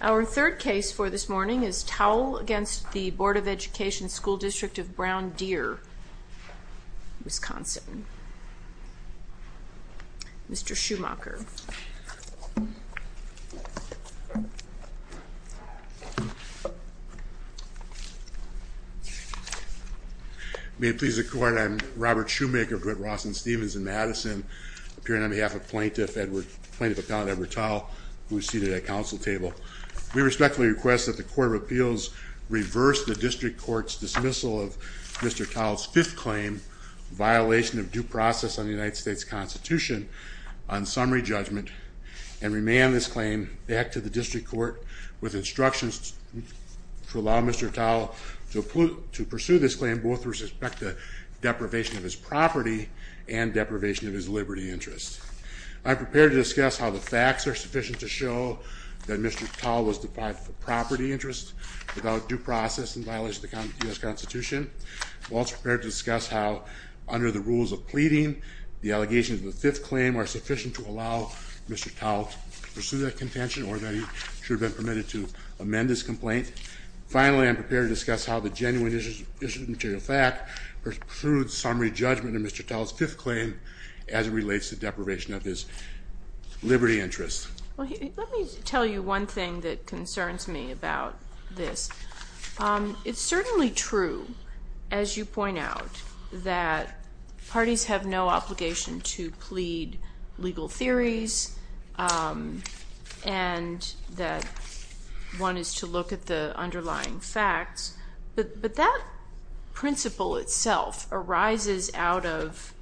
Our third case for this morning is Towle v. Board of Education School District of Brown Deer, Wisconsin. Mr. Schumacher. May it please the Court, I am Robert Schumacher, of Red Ross and Stephens in Madison, appearing on behalf of Plaintiff Appellant Edward Towle, who is seated at council table. We respectfully request that the Court of Appeals reverse the District Court's dismissal of Mr. Towle's fifth claim, violation of due process on the United States Constitution, on summary judgment, and remand this claim back to the District Court with instructions to allow Mr. Towle to pursue this claim both with respect to deprivation of his property and deprivation of his liberty interest. I am prepared to discuss how the facts are sufficient to show that Mr. Towle was deprived of a property interest without due process and violation of the U.S. Constitution. I am also prepared to discuss how, under the rules of pleading, the allegations of the fifth claim are sufficient to allow Mr. Towle to pursue that contention or that he should have been permitted to amend his complaint. Finally, I am prepared to discuss how the genuine issue of material fact pursues summary judgment of Mr. Towle's fifth claim as it relates to deprivation of his liberty interest. Let me tell you one thing that concerns me about this. It's certainly true, as you point out, that parties have no obligation to plead legal theories and that one is to look at the underlying facts, but that principle itself arises out of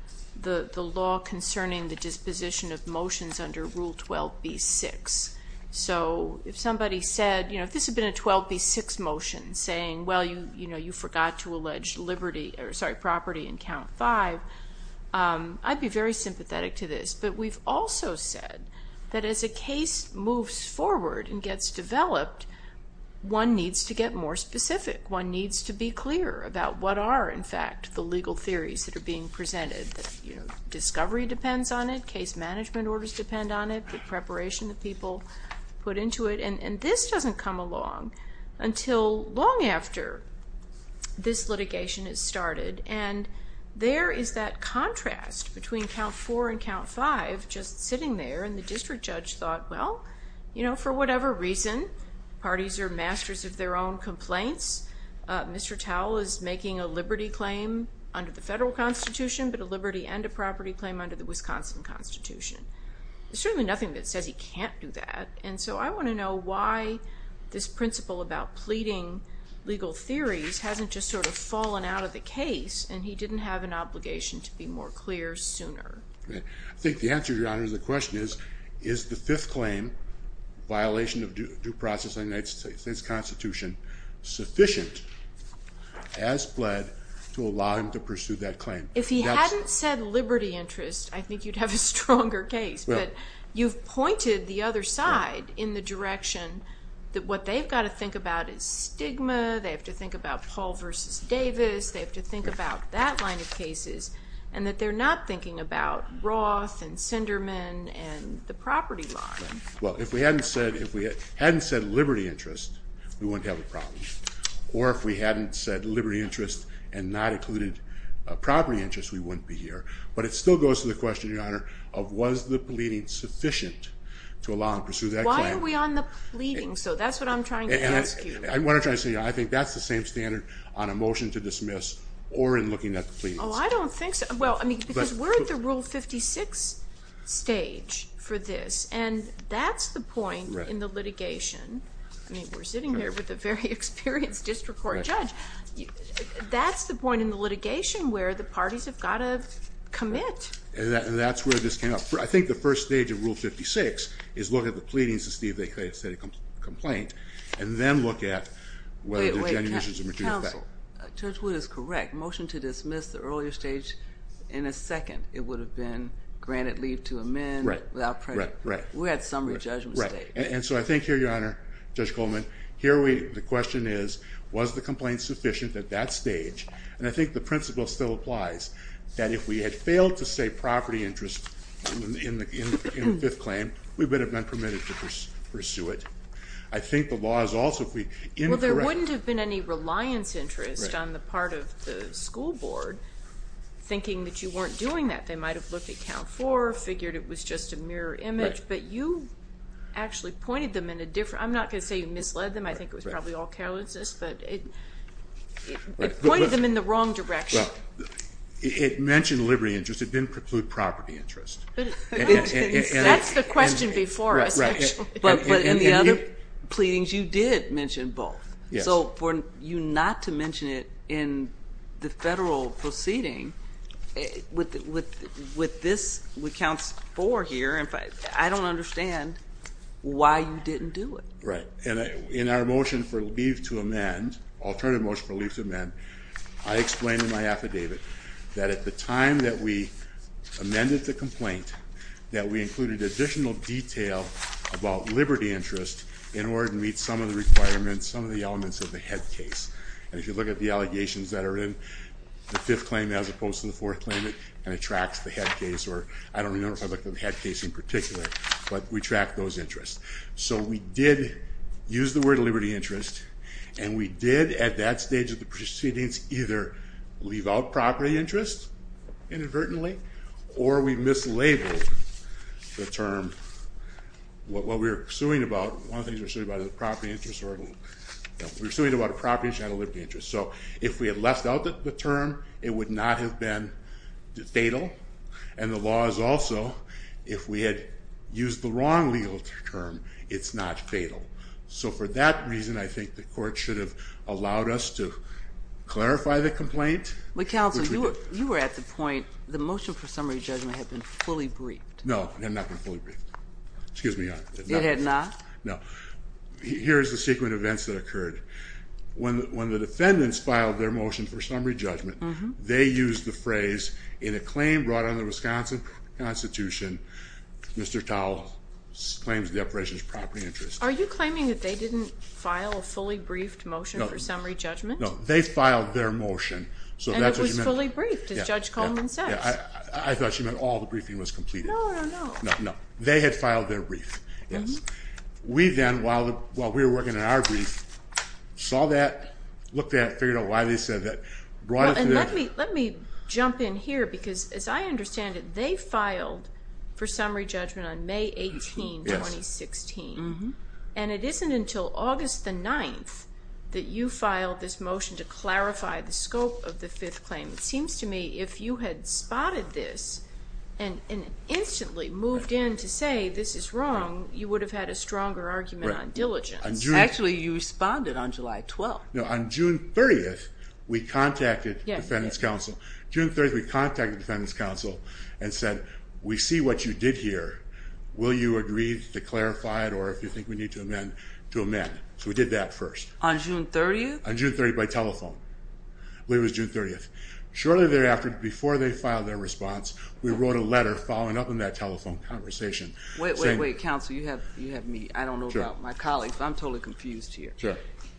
the law concerning the disposition of motions under Rule 12b-6. So, if somebody said, you know, if this had been a 12b-6 motion saying, well, you know, you forgot to allege liberty, or sorry, property in Count 5, I'd be very sympathetic to this. But we've also said that as a case moves forward and gets developed, one needs to get more specific. One needs to be clear about what are, in fact, the legal theories that are being presented. You know, discovery depends on it. Case management orders depend on it. The preparation that people put into it. And this doesn't come along until long after this litigation is started. And there is that contrast between Count 4 and Count 5 just sitting there. And the district judge thought, well, you know, for whatever reason, parties are masters of their own complaints. Mr. Towle is making a liberty claim under the federal Constitution, but a liberty and a property claim under the Wisconsin Constitution. There's certainly nothing that says he can't do that. And so I want to know why this principle about pleading legal theories hasn't just sort of fallen out of the case, and he didn't have an obligation to be more clear sooner. I think the answer, Your Honor, to the question is, is the fifth claim, violation of due process in the United States Constitution, sufficient as pled to allow him to pursue that claim? If he hadn't said liberty interest, I think you'd have a stronger case. But you've pointed the other side in the direction that what they've got to think about is stigma, they have to think about Paul versus Davis, they have to think about that line of cases, and that they're not thinking about Roth and Sinderman and the property law. Well, if we hadn't said liberty interest, we wouldn't have a problem. Or if we hadn't said liberty interest and not included property interest, we wouldn't be here. But it still goes to the question, Your Honor, of was the pleading sufficient to allow him to pursue that claim? Why are we on the pleading? So that's what I'm trying to ask you. I think that's the same standard on a motion to dismiss or in looking at the pleadings. Oh, I don't think so. Well, I mean, because we're at the Rule 56 stage for this, and that's the point in the litigation. I mean, we're sitting here with a very experienced district court judge. That's the point in the litigation where the parties have got to commit. And that's where this came up. I think the first stage of Rule 56 is look at the pleadings, and see if they could have said a complaint, and then look at whether there are genuine issues of material effect. Wait, wait, counsel. Judge Wood is correct. Motion to dismiss the earlier stage, in a second, it would have been granted leave to amend without prejudice. Right, right, right. We're at summary judgment stage. And so I think here, Your Honor, Judge Goldman, here the question is was the complaint sufficient at that stage? And I think the principle still applies, that if we had failed to say property interest in the fifth claim, we would have been permitted to pursue it. I think the law is also incorrect. Well, there wouldn't have been any reliance interest on the part of the school board thinking that you weren't doing that. They might have looked at count four, figured it was just a mirror image. But you actually pointed them in a different – I'm not going to say you misled them. I think it was probably all carelessness. But it pointed them in the wrong direction. Well, it mentioned liberty interest. It didn't preclude property interest. That's the question before us, actually. But in the other pleadings, you did mention both. So for you not to mention it in the federal proceeding with this, with count four here, I don't understand why you didn't do it. Right. And in our motion for leave to amend, alternative motion for leave to amend, I explained in my affidavit that at the time that we amended the complaint, that we included additional detail about liberty interest in order to meet some of the requirements, some of the elements of the head case. And if you look at the allegations that are in the fifth claim as opposed to the fourth claim, and it tracks the head case, or I don't remember if I looked at the head case in particular, but we tracked those interests. So we did use the word liberty interest, and we did at that stage of the proceedings either leave out property interest inadvertently, or we mislabeled the term. What we were suing about, one of the things we were suing about is the property interest. We were suing about a property that had a liberty interest. So if we had left out the term, it would not have been fatal. And the law is also, if we had used the wrong legal term, it's not fatal. So for that reason, I think the court should have allowed us to clarify the complaint, which we did. But, counsel, you were at the point, the motion for summary judgment had been fully briefed. No, it had not been fully briefed. Excuse me, Your Honor. It had not? No. Here is the sequence of events that occurred. When the defendants filed their motion for summary judgment, they used the phrase, in a claim brought under the Wisconsin Constitution, Mr. Towle claims the operation is property interest. Are you claiming that they didn't file a fully briefed motion for summary judgment? No. They filed their motion. And it was fully briefed, as Judge Coleman says. I thought she meant all the briefing was completed. No, no, no. No, no. They had filed their brief. Yes. We then, while we were working on our brief, saw that, looked at it, figured out why they said that. And let me jump in here, because as I understand it, they filed for summary judgment on May 18, 2016. Yes. And it isn't until August the 9th that you filed this motion to clarify the scope of the fifth claim. It seems to me if you had spotted this and instantly moved in to say this is wrong, you would have had a stronger argument on diligence. Actually, you responded on July 12th. No, on June 30th, we contacted the Defendant's Counsel. June 30th, we contacted the Defendant's Counsel and said, we see what you did here. Will you agree to clarify it? Or if you think we need to amend, to amend. So we did that first. On June 30th? On June 30th by telephone. I believe it was June 30th. Shortly thereafter, before they filed their response, we wrote a letter following up on that telephone conversation. Wait, wait, wait. Counsel, you have me. I don't know about my colleagues, but I'm totally confused here.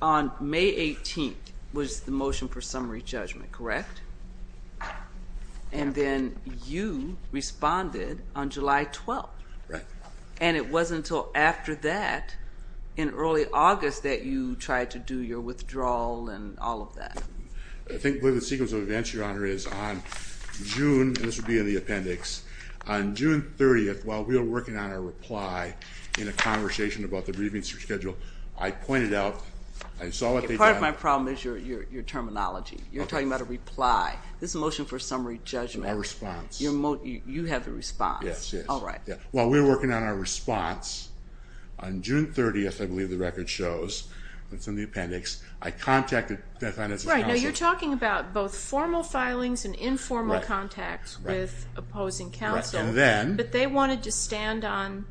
On May 18th was the motion for summary judgment, correct? And then you responded on July 12th. Right. And it wasn't until after that, in early August, that you tried to do your withdrawal and all of that. I think the sequence of events, Your Honor, is on June, and this would be in the appendix, on June 30th, while we were working on our reply in a conversation about the briefing schedule, I pointed out, I saw what they did. Part of my problem is your terminology. You're talking about a reply. This is a motion for a summary judgment. A response. You have a response. Yes, yes. All right. While we were working on our response, on June 30th, I believe the record shows, it's in the appendix, I contacted Defendant's counsel. Right. Now, you're talking about both formal filings and informal contacts with opposing counsel. But they wanted to stand on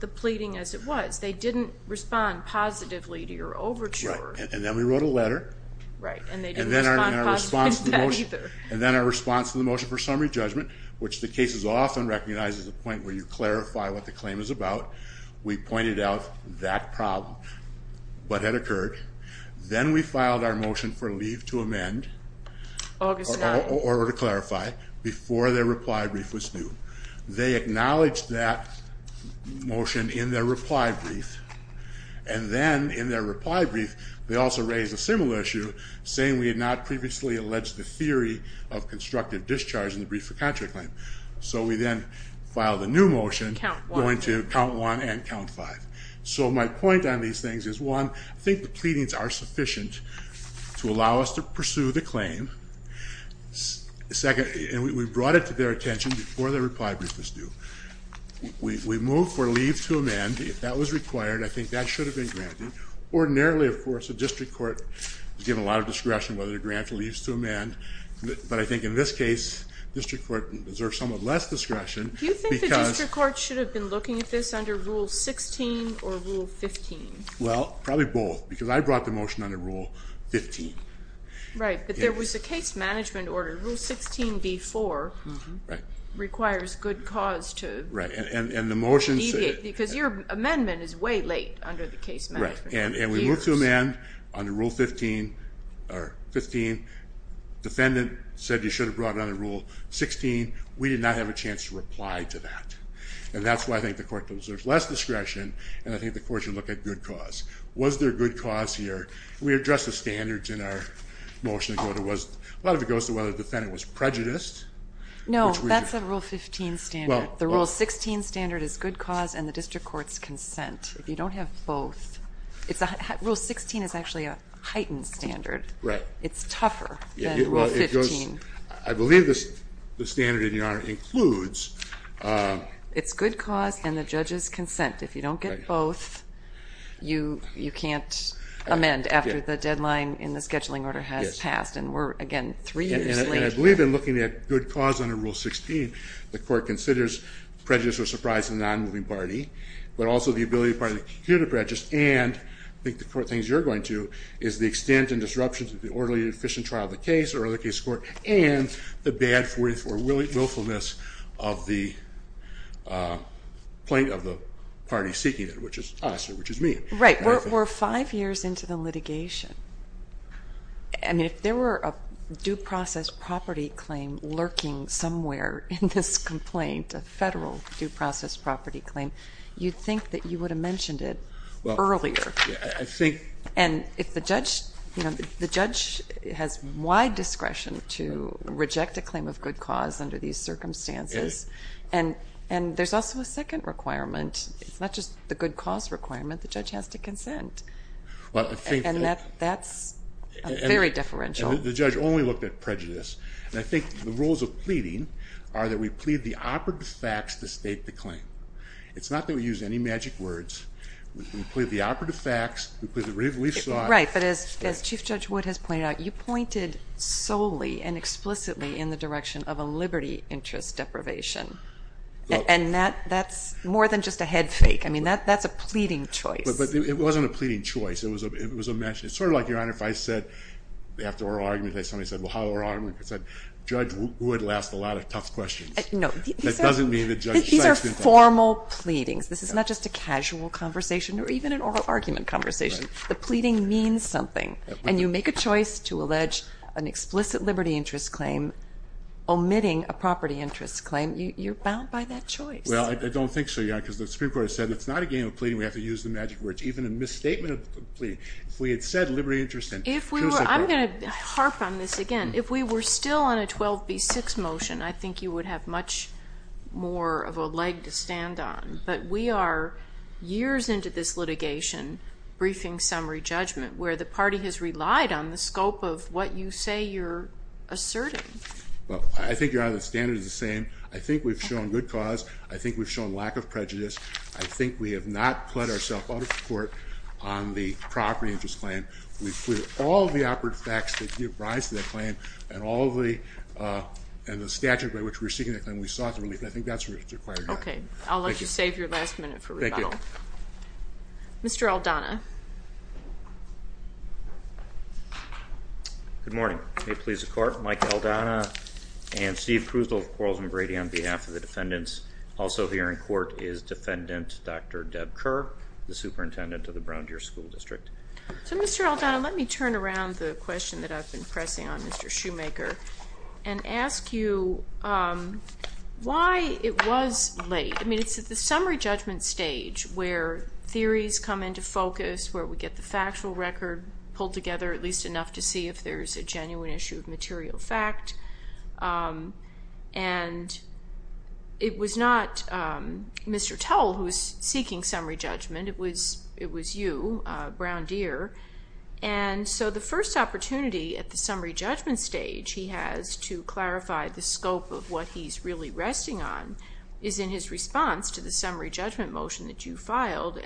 the pleading as it was. They didn't respond positively to your overture. Right. And then we wrote a letter. Right. And they didn't respond positively to that either. And then our response to the motion for summary judgment, which the cases often recognize as a point where you clarify what the claim is about, we pointed out that problem, what had occurred. Then we filed our motion for leave to amend. August 9th. Or to clarify, before their reply brief was due. They acknowledged that motion in their reply brief. And then in their reply brief, they also raised a similar issue saying we had not previously alleged the theory of constructive discharge in the brief for contract claim. So we then filed a new motion. Count one. Going to count one and count five. So my point on these things is, one, I think the pleadings are sufficient to allow us to pursue the claim. Second, and we brought it to their attention before their reply brief was due. We moved for leave to amend. If that was required, I think that should have been granted. Ordinarily, of course, the district court is given a lot of discretion whether the grant leaves to amend. But I think in this case, district court deserves somewhat less discretion. Do you think the district court should have been looking at this under rule 16 or rule 15? Well, probably both because I brought the motion under rule 15. Right. But there was a case management order rule 16 before. Right. Requires good cause to. Right. And the motion said. Because your amendment is way late under the case management. Right. And we moved to amend under rule 15 or 15. Defendant said you should have brought it under rule 16. We did not have a chance to reply to that. And that's why I think the court deserves less discretion. And I think the court should look at good cause. Was there good cause here? We addressed the standards in our motion. A lot of it goes to whether the defendant was prejudiced. No, that's a rule 15 standard. The rule 16 standard is good cause and the district court's consent. If you don't have both. Rule 16 is actually a heightened standard. Right. It's tougher than rule 15. I believe the standard in your honor includes. It's good cause and the judge's consent. If you don't get both, you can't amend after the deadline in the scheduling order has passed. And we're, again, three years late. And I believe in looking at good cause under rule 16, the court considers prejudice or surprise in the non-moving party, but also the ability of the party to continue to prejudice. And I think the court thinks you're going to, is the extent and disruptions of the orderly and efficient trial of the case or other case court and the bad willfulness of the plaintiff, of the party seeking it, which is us or which is me. Right. We're five years into the litigation. I mean, if there were a due process property claim lurking somewhere in this complaint, a federal due process property claim, you'd think that you would have mentioned it earlier. I think. And if the judge, you know, the judge has wide discretion to reject a claim of good cause under these circumstances. And, and there's also a second requirement. It's not just the good cause requirement. The judge has to consent. And that's very differential. The judge only looked at prejudice. And I think the rules of pleading are that we plead the operative facts to state the claim. It's not that we use any magic words. We plead the operative facts. Right. But as, as chief judge Wood has pointed out, you pointed solely and explicitly in the direction of a Liberty interest deprivation. And that that's more than just a head fake. I mean, that that's a pleading choice. But it wasn't a pleading choice. It was a, it was a mesh. It's sort of like your honor. If I said. After oral arguments, I, somebody said, well, how long? I said, judge would last a lot of tough questions. No, it doesn't mean that. These are formal pleadings. This is not just a casual conversation or even an oral argument conversation. The pleading means something and you make a choice to allege an explicit Liberty interest claim. Omitting a property interest claim. You you're bound by that choice. I don't think so. Yeah. Because the Supreme court has said, it's not a game of pleading. We have to use the magic words, even a misstatement of plea. If we had said Liberty interest and if we were, I'm going to harp on this again. If we were still on a 12 B six motion, I think you would have much more of a leg to stand on, but we are years into this litigation. Briefing summary judgment where the party has relied on the scope of what you say you're asserting. Well, I think you're out of the standard is the same. I think we've shown good cause. I think we've shown lack of prejudice. I think we have not put ourself out of court on the property interest plan. We've cleared all of the operative facts that give rise to that claim and all of the, uh, and the statute by which we're seeking that claim. We sought the relief. I think that's required. Okay. I'll let you save your last minute for rebuttal. Mr. Aldana. Good morning. May it please the court. Mike Aldana and Steve Cruz, on behalf of the defendants. Also here in court is defendant. Dr. Deb Kerr, the superintendent of the Brown Deer school district. So Mr. Aldana, let me turn around the question that I've been pressing on Mr. Shoemaker and ask you, um, why it was late. I mean, it's at the summary judgment stage where theories come into focus, where we get the factual record pulled together, at least enough to see if there's a genuine issue of material fact. Um, and it was not, um, Mr. Towle who is seeking summary judgment. It was, it was you, uh, Brown Deer. And so the first opportunity at the summary judgment stage, he has to clarify the scope of what he's really resting on is in his response to the summary judgment motion that you filed. you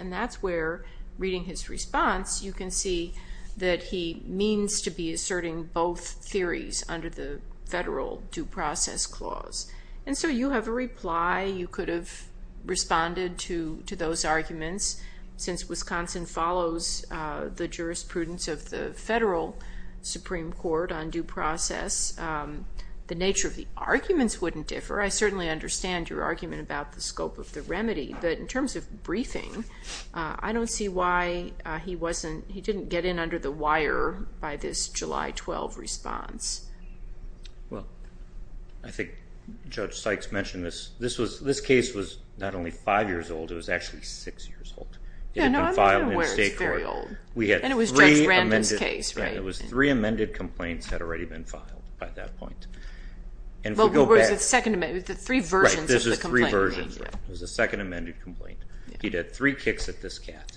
can see that he means to be asserting both theories under the federal due process clause. And so you have a reply. You could have responded to, to those arguments since Wisconsin follows, uh, the jurisprudence of the federal Supreme court on due process. Um, the nature of the arguments wouldn't differ. I certainly understand your argument about the scope of the remedy, but in terms of briefing, uh, I don't see why, uh, he wasn't, he didn't get in under the wire by this July 12 response. Well, I think judge Sykes mentioned this. This was, this case was not only five years old, it was actually six years old. It had been filed in state court. And it was Judge Brandon's case, right? It was three amended complaints had already been filed by that point. And if we go back. Well, it was the second amendment, the three versions of the complaint. Right, this is three versions. It was the second amended complaint. He'd had three kicks at this cat.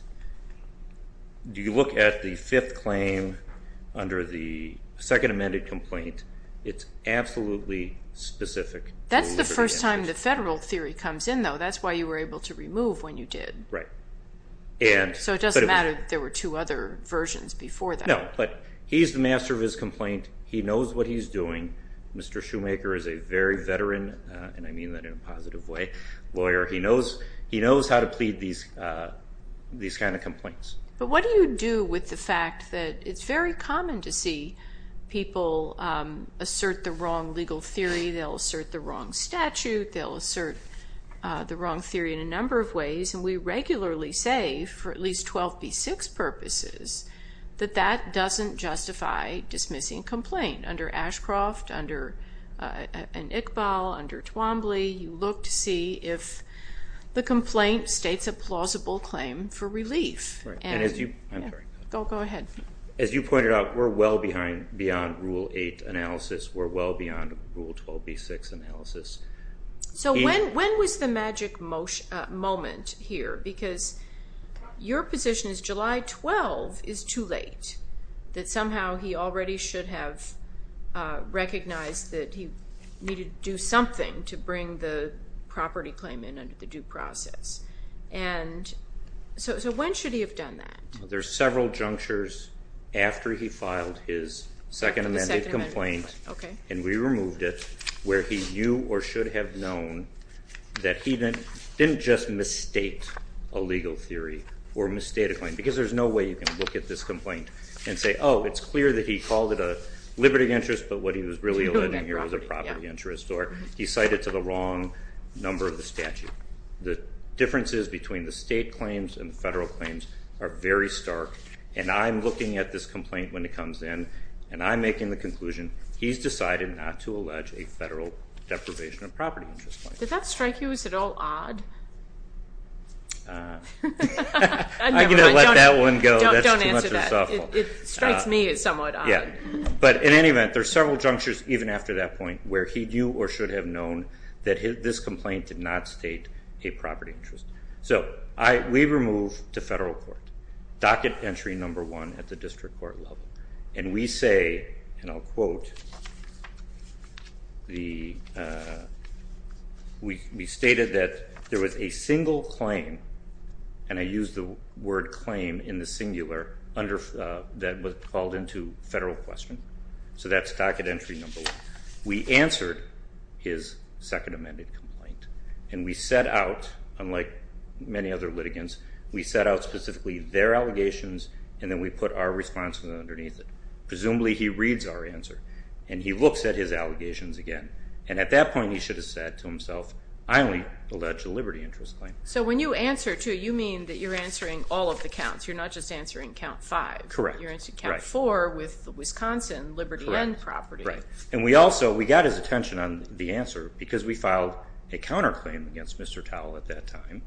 Do you look at the fifth claim under the second amended complaint? It's absolutely specific. That's the first time the federal theory comes in though. That's why you were able to remove when you did. Right. And, so it doesn't matter. There were two other versions before that. No, but he's the master of his complaint. He knows what he's doing. Mr. Shoemaker is a very veteran, uh, and I mean that in a positive way, lawyer. He knows, he knows how to plead these, uh, these kinds of complaints. But what do you do with the fact that it's very common to see people, um, assert the wrong legal theory. They'll assert the wrong statute. They'll assert, uh, the wrong theory in a number of ways. And we regularly say for at least 12B6 purposes, that that doesn't justify dismissing complaint under Ashcroft, under, uh, and Iqbal, under Twombly. You look to see if the complaint states a plausible claim for relief. Right. And as you, I'm sorry. Go ahead. As you pointed out, we're well behind, beyond Rule 8 analysis. We're well beyond Rule 12B6 analysis. So when, when was the magic motion, uh, moment here? Because your position is July 12 is too late. That somehow he already should have, uh, recognized that he needed to do something to bring the property claim in under the due process. And so, so when should he have done that? There's several junctures after he filed his second amended complaint. Okay. And we removed it where he knew or should have known that he didn't, didn't just misstate a legal theory or misstate a claim because there's no way you can look at this complaint and say, oh, it's clear that he called it a liberty of interest, but what he was really alluding here was a property interest, or he cited to the wrong number of the statute. The differences between the state claims and the federal claims are very stark. And I'm looking at this complaint when it comes in and I'm making the conclusion he's decided not to allege a federal deprivation of property interest. Did that strike you as at all odd? Uh, I'm going to let that one go. Don't answer that. It strikes me as somewhat odd. Yeah. But in any event, there's several junctures even after that point where he knew or should have known that his, this complaint did not state a property interest. So I, we removed to federal court docket entry number one at the district court level. And we say, and I'll quote the, uh, we, we stated that there was a single claim and I use the word claim in the singular under, uh, that was called into federal question. So that's docket entry number one. We answered his second amended complaint and we set out, unlike many other litigants, we set out specifically their allegations and then we put our responses underneath it. Presumably he reads our answer and he looks at his allegations again. And at that point he should have said to himself, I only allege a liberty interest claim. So when you answer to, you mean that you're answering all of the counts. You're not just answering count five. Correct. You're answering count four with the Wisconsin liberty and property. Right. And we also, we got his attention on the answer because we filed a counterclaim against Mr. Towle at that time,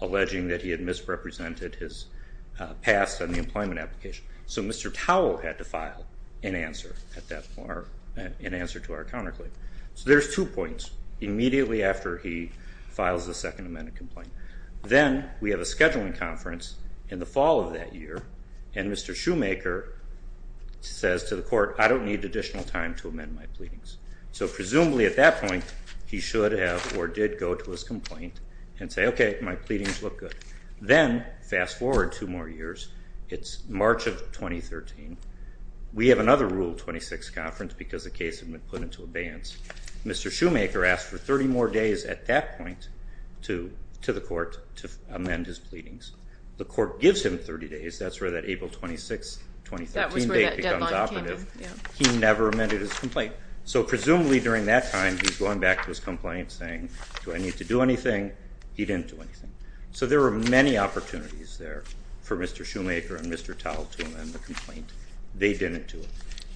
alleging that he had misrepresented his, uh, past on the employment application. So Mr. Towle had to file an answer at that bar and answer to our counterclaim. So there's two points immediately after he files the second amendment complaint. Then we have a scheduling conference in the fall of that year. And Mr. Shoemaker says to the court, I don't need additional time to amend my pleadings. So presumably at that point he should have, or did go to his complaint and say, okay, my pleadings look good. Then fast forward two more years. It's March of 2013. We have another rule 26 conference because the case had been put into abeyance. Mr. Shoemaker asked for 30 more days at that point to, to the court to amend his pleadings. The court gives him 30 days. That's where that April 26th, 2013 date becomes operative. He never amended his complaint. So presumably during that time, he's going back to his complaint saying, do I need to do anything? He didn't do anything. So there were many opportunities there for Mr. Shoemaker and Mr. Towle to amend the complaint. They didn't do it.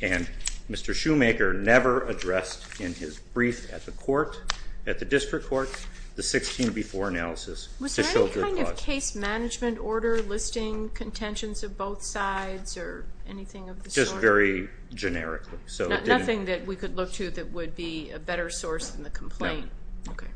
And Mr. Shoemaker never addressed in his brief at the court, at the district court, the 16 before analysis. Was there any kind of case management order listing contentions of both sides or anything of the sort? Not very generically. Nothing that we could look to that would be a better source than the complaint? No. Okay.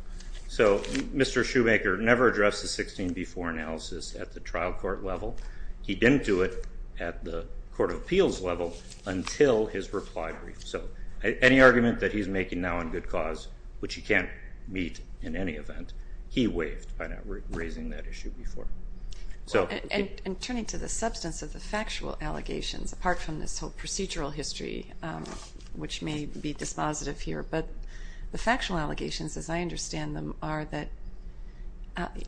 So Mr. Shoemaker never addressed the 16 before analysis at the trial court level. He didn't do it at the court of appeals level until his reply brief. So any argument that he's making now on good cause, which he can't meet in any event, he waived by not raising that issue before. And turning to the substance of the factual allegations, apart from this whole procedural history, which may be dispositive here, but the factual allegations, as I understand them, are that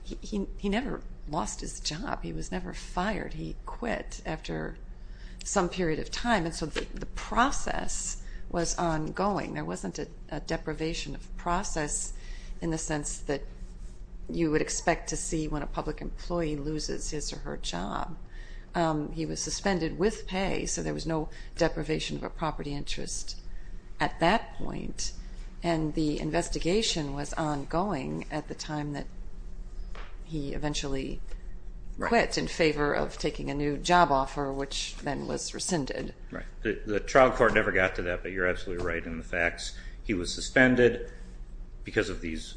he never lost his job. He was never fired. He quit after some period of time. And so the process was ongoing. There wasn't a deprivation of process in the sense that you would expect to see when a public employee loses his or her job. He was suspended with pay, so there was no deprivation of a property interest at that point. And the investigation was ongoing at the time that he eventually quit in favor of taking a new job offer, which then was rescinded. Right. The trial court never got to that, but you're absolutely right in the facts. He was suspended because of these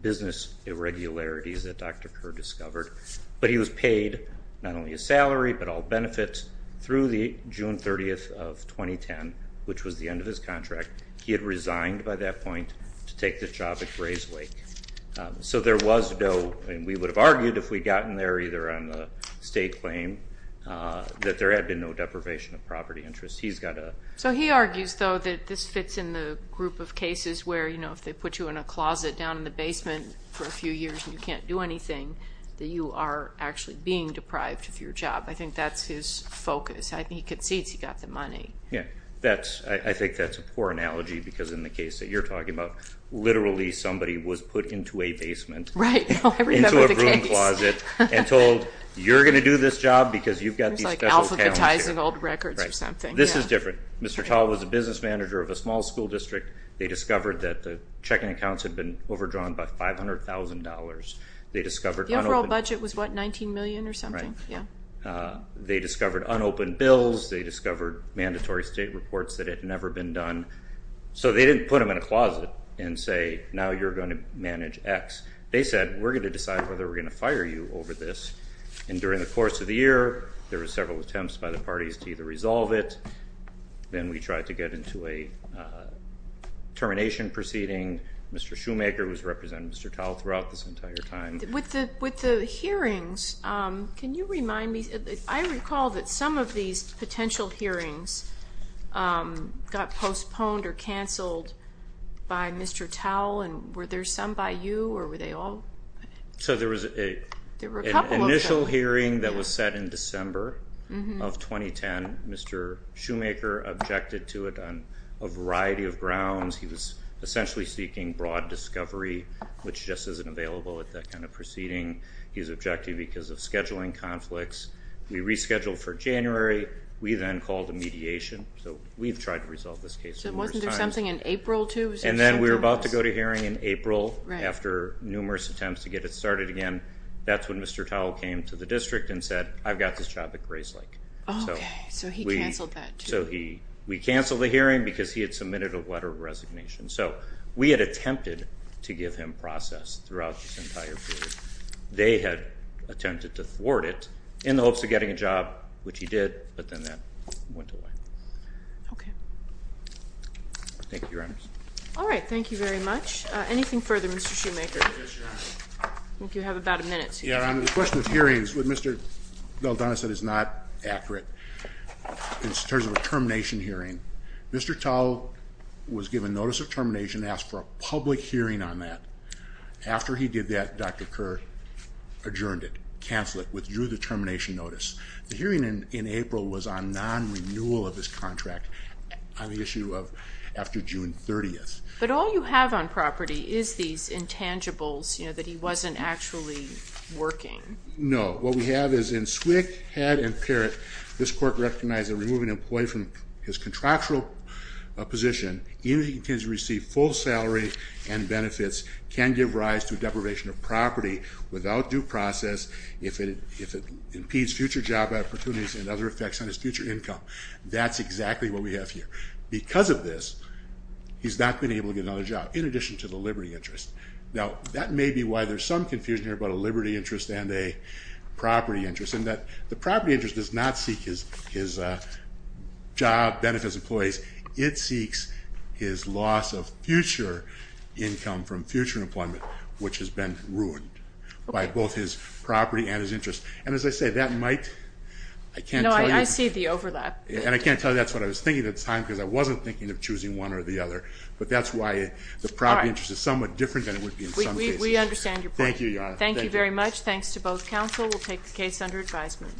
business irregularities that Dr. Kerr discovered. But he was paid not only a salary, but all benefits through the June 30th of 2010, which was the end of his contract. He had resigned by that point to take the job at Grayslake. So there was no, and we would have argued if we'd gotten there either on a state claim, that there had been no deprivation of property interest. He's got a. So he argues, though, that this fits in the group of cases where, you know, if they put you in a closet down in the basement for a few years and you can't do anything, that you are actually being deprived of your job. I think that's his focus. He concedes he got the money. Yeah. I think that's a poor analogy because in the case that you're talking about, literally somebody was put into a basement. Right. I remember the case. Into a broom closet and told, you're going to do this job because you've got these special talents here. It was like alphabetizing old records or something. This is different. Mr. Tall was a business manager of a small school district. They discovered that the checking accounts had been overdrawn by $500,000. The overall budget was, what, $19 million or something? Right. Yeah. They discovered unopened bills. They discovered mandatory state reports that had never been done. So they didn't put them in a closet and say, now you're going to manage X. They said, we're going to decide whether we're going to fire you over this. And during the course of the year, there were several attempts by the parties to either resolve it. Then we tried to get into a termination proceeding. Mr. Shoemaker was representing Mr. Tall throughout this entire time. With the hearings, can you remind me? I recall that some of these potential hearings got postponed or canceled by Mr. Tall. And were there some by you or were they all? So there was an initial hearing that was set in December of 2010. He was essentially seeking broad discovery, which just isn't available at that kind of proceeding. He was objecting because of scheduling conflicts. We rescheduled for January. We then called a mediation. So we've tried to resolve this case numerous times. So wasn't there something in April, too? And then we were about to go to hearing in April. Right. After numerous attempts to get it started again. That's when Mr. Tall came to the district and said, I've got this job at Grayslake. Okay. So he canceled that, too. And so we canceled the hearing because he had submitted a letter of resignation. So we had attempted to give him process throughout this entire period. They had attempted to thwart it in the hopes of getting a job, which he did. But then that went away. Okay. Thank you, Your Honors. All right. Thank you very much. Anything further, Mr. Shoemaker? Yes, Your Honor. I think you have about a minute. Yes, Your Honor. The question of hearings, what Mr. Valdonis said is not accurate in terms of a termination hearing. Mr. Tall was given notice of termination, asked for a public hearing on that. After he did that, Dr. Kerr adjourned it, canceled it, withdrew the termination notice. The hearing in April was on non-renewal of his contract on the issue of after June 30th. But all you have on property is these intangibles, you know, that he wasn't actually working. No. What we have is in SWCC, Head, and Parrott, this court recognized that removing an employee from his contractual position, even if he continues to receive full salary and benefits, can give rise to a deprivation of property without due process if it impedes future job opportunities and other effects on his future income. That's exactly what we have here. Because of this, he's not been able to get another job in addition to the liberty interest. Now, that may be why there's some confusion here about a liberty interest and a property interest in that the property interest does not seek his job, benefits, employees. It seeks his loss of future income from future employment, which has been ruined by both his property and his interest. And as I say, that might, I can't tell you. No, I see the overlap. And I can't tell you that's what I was thinking at the time because I wasn't thinking of choosing one or the other. But that's why the property interest is somewhat different than it would be in some cases. We understand your point. Thank you, Your Honor. Thank you very much. Thanks to both counsel. We'll take the case under advisement.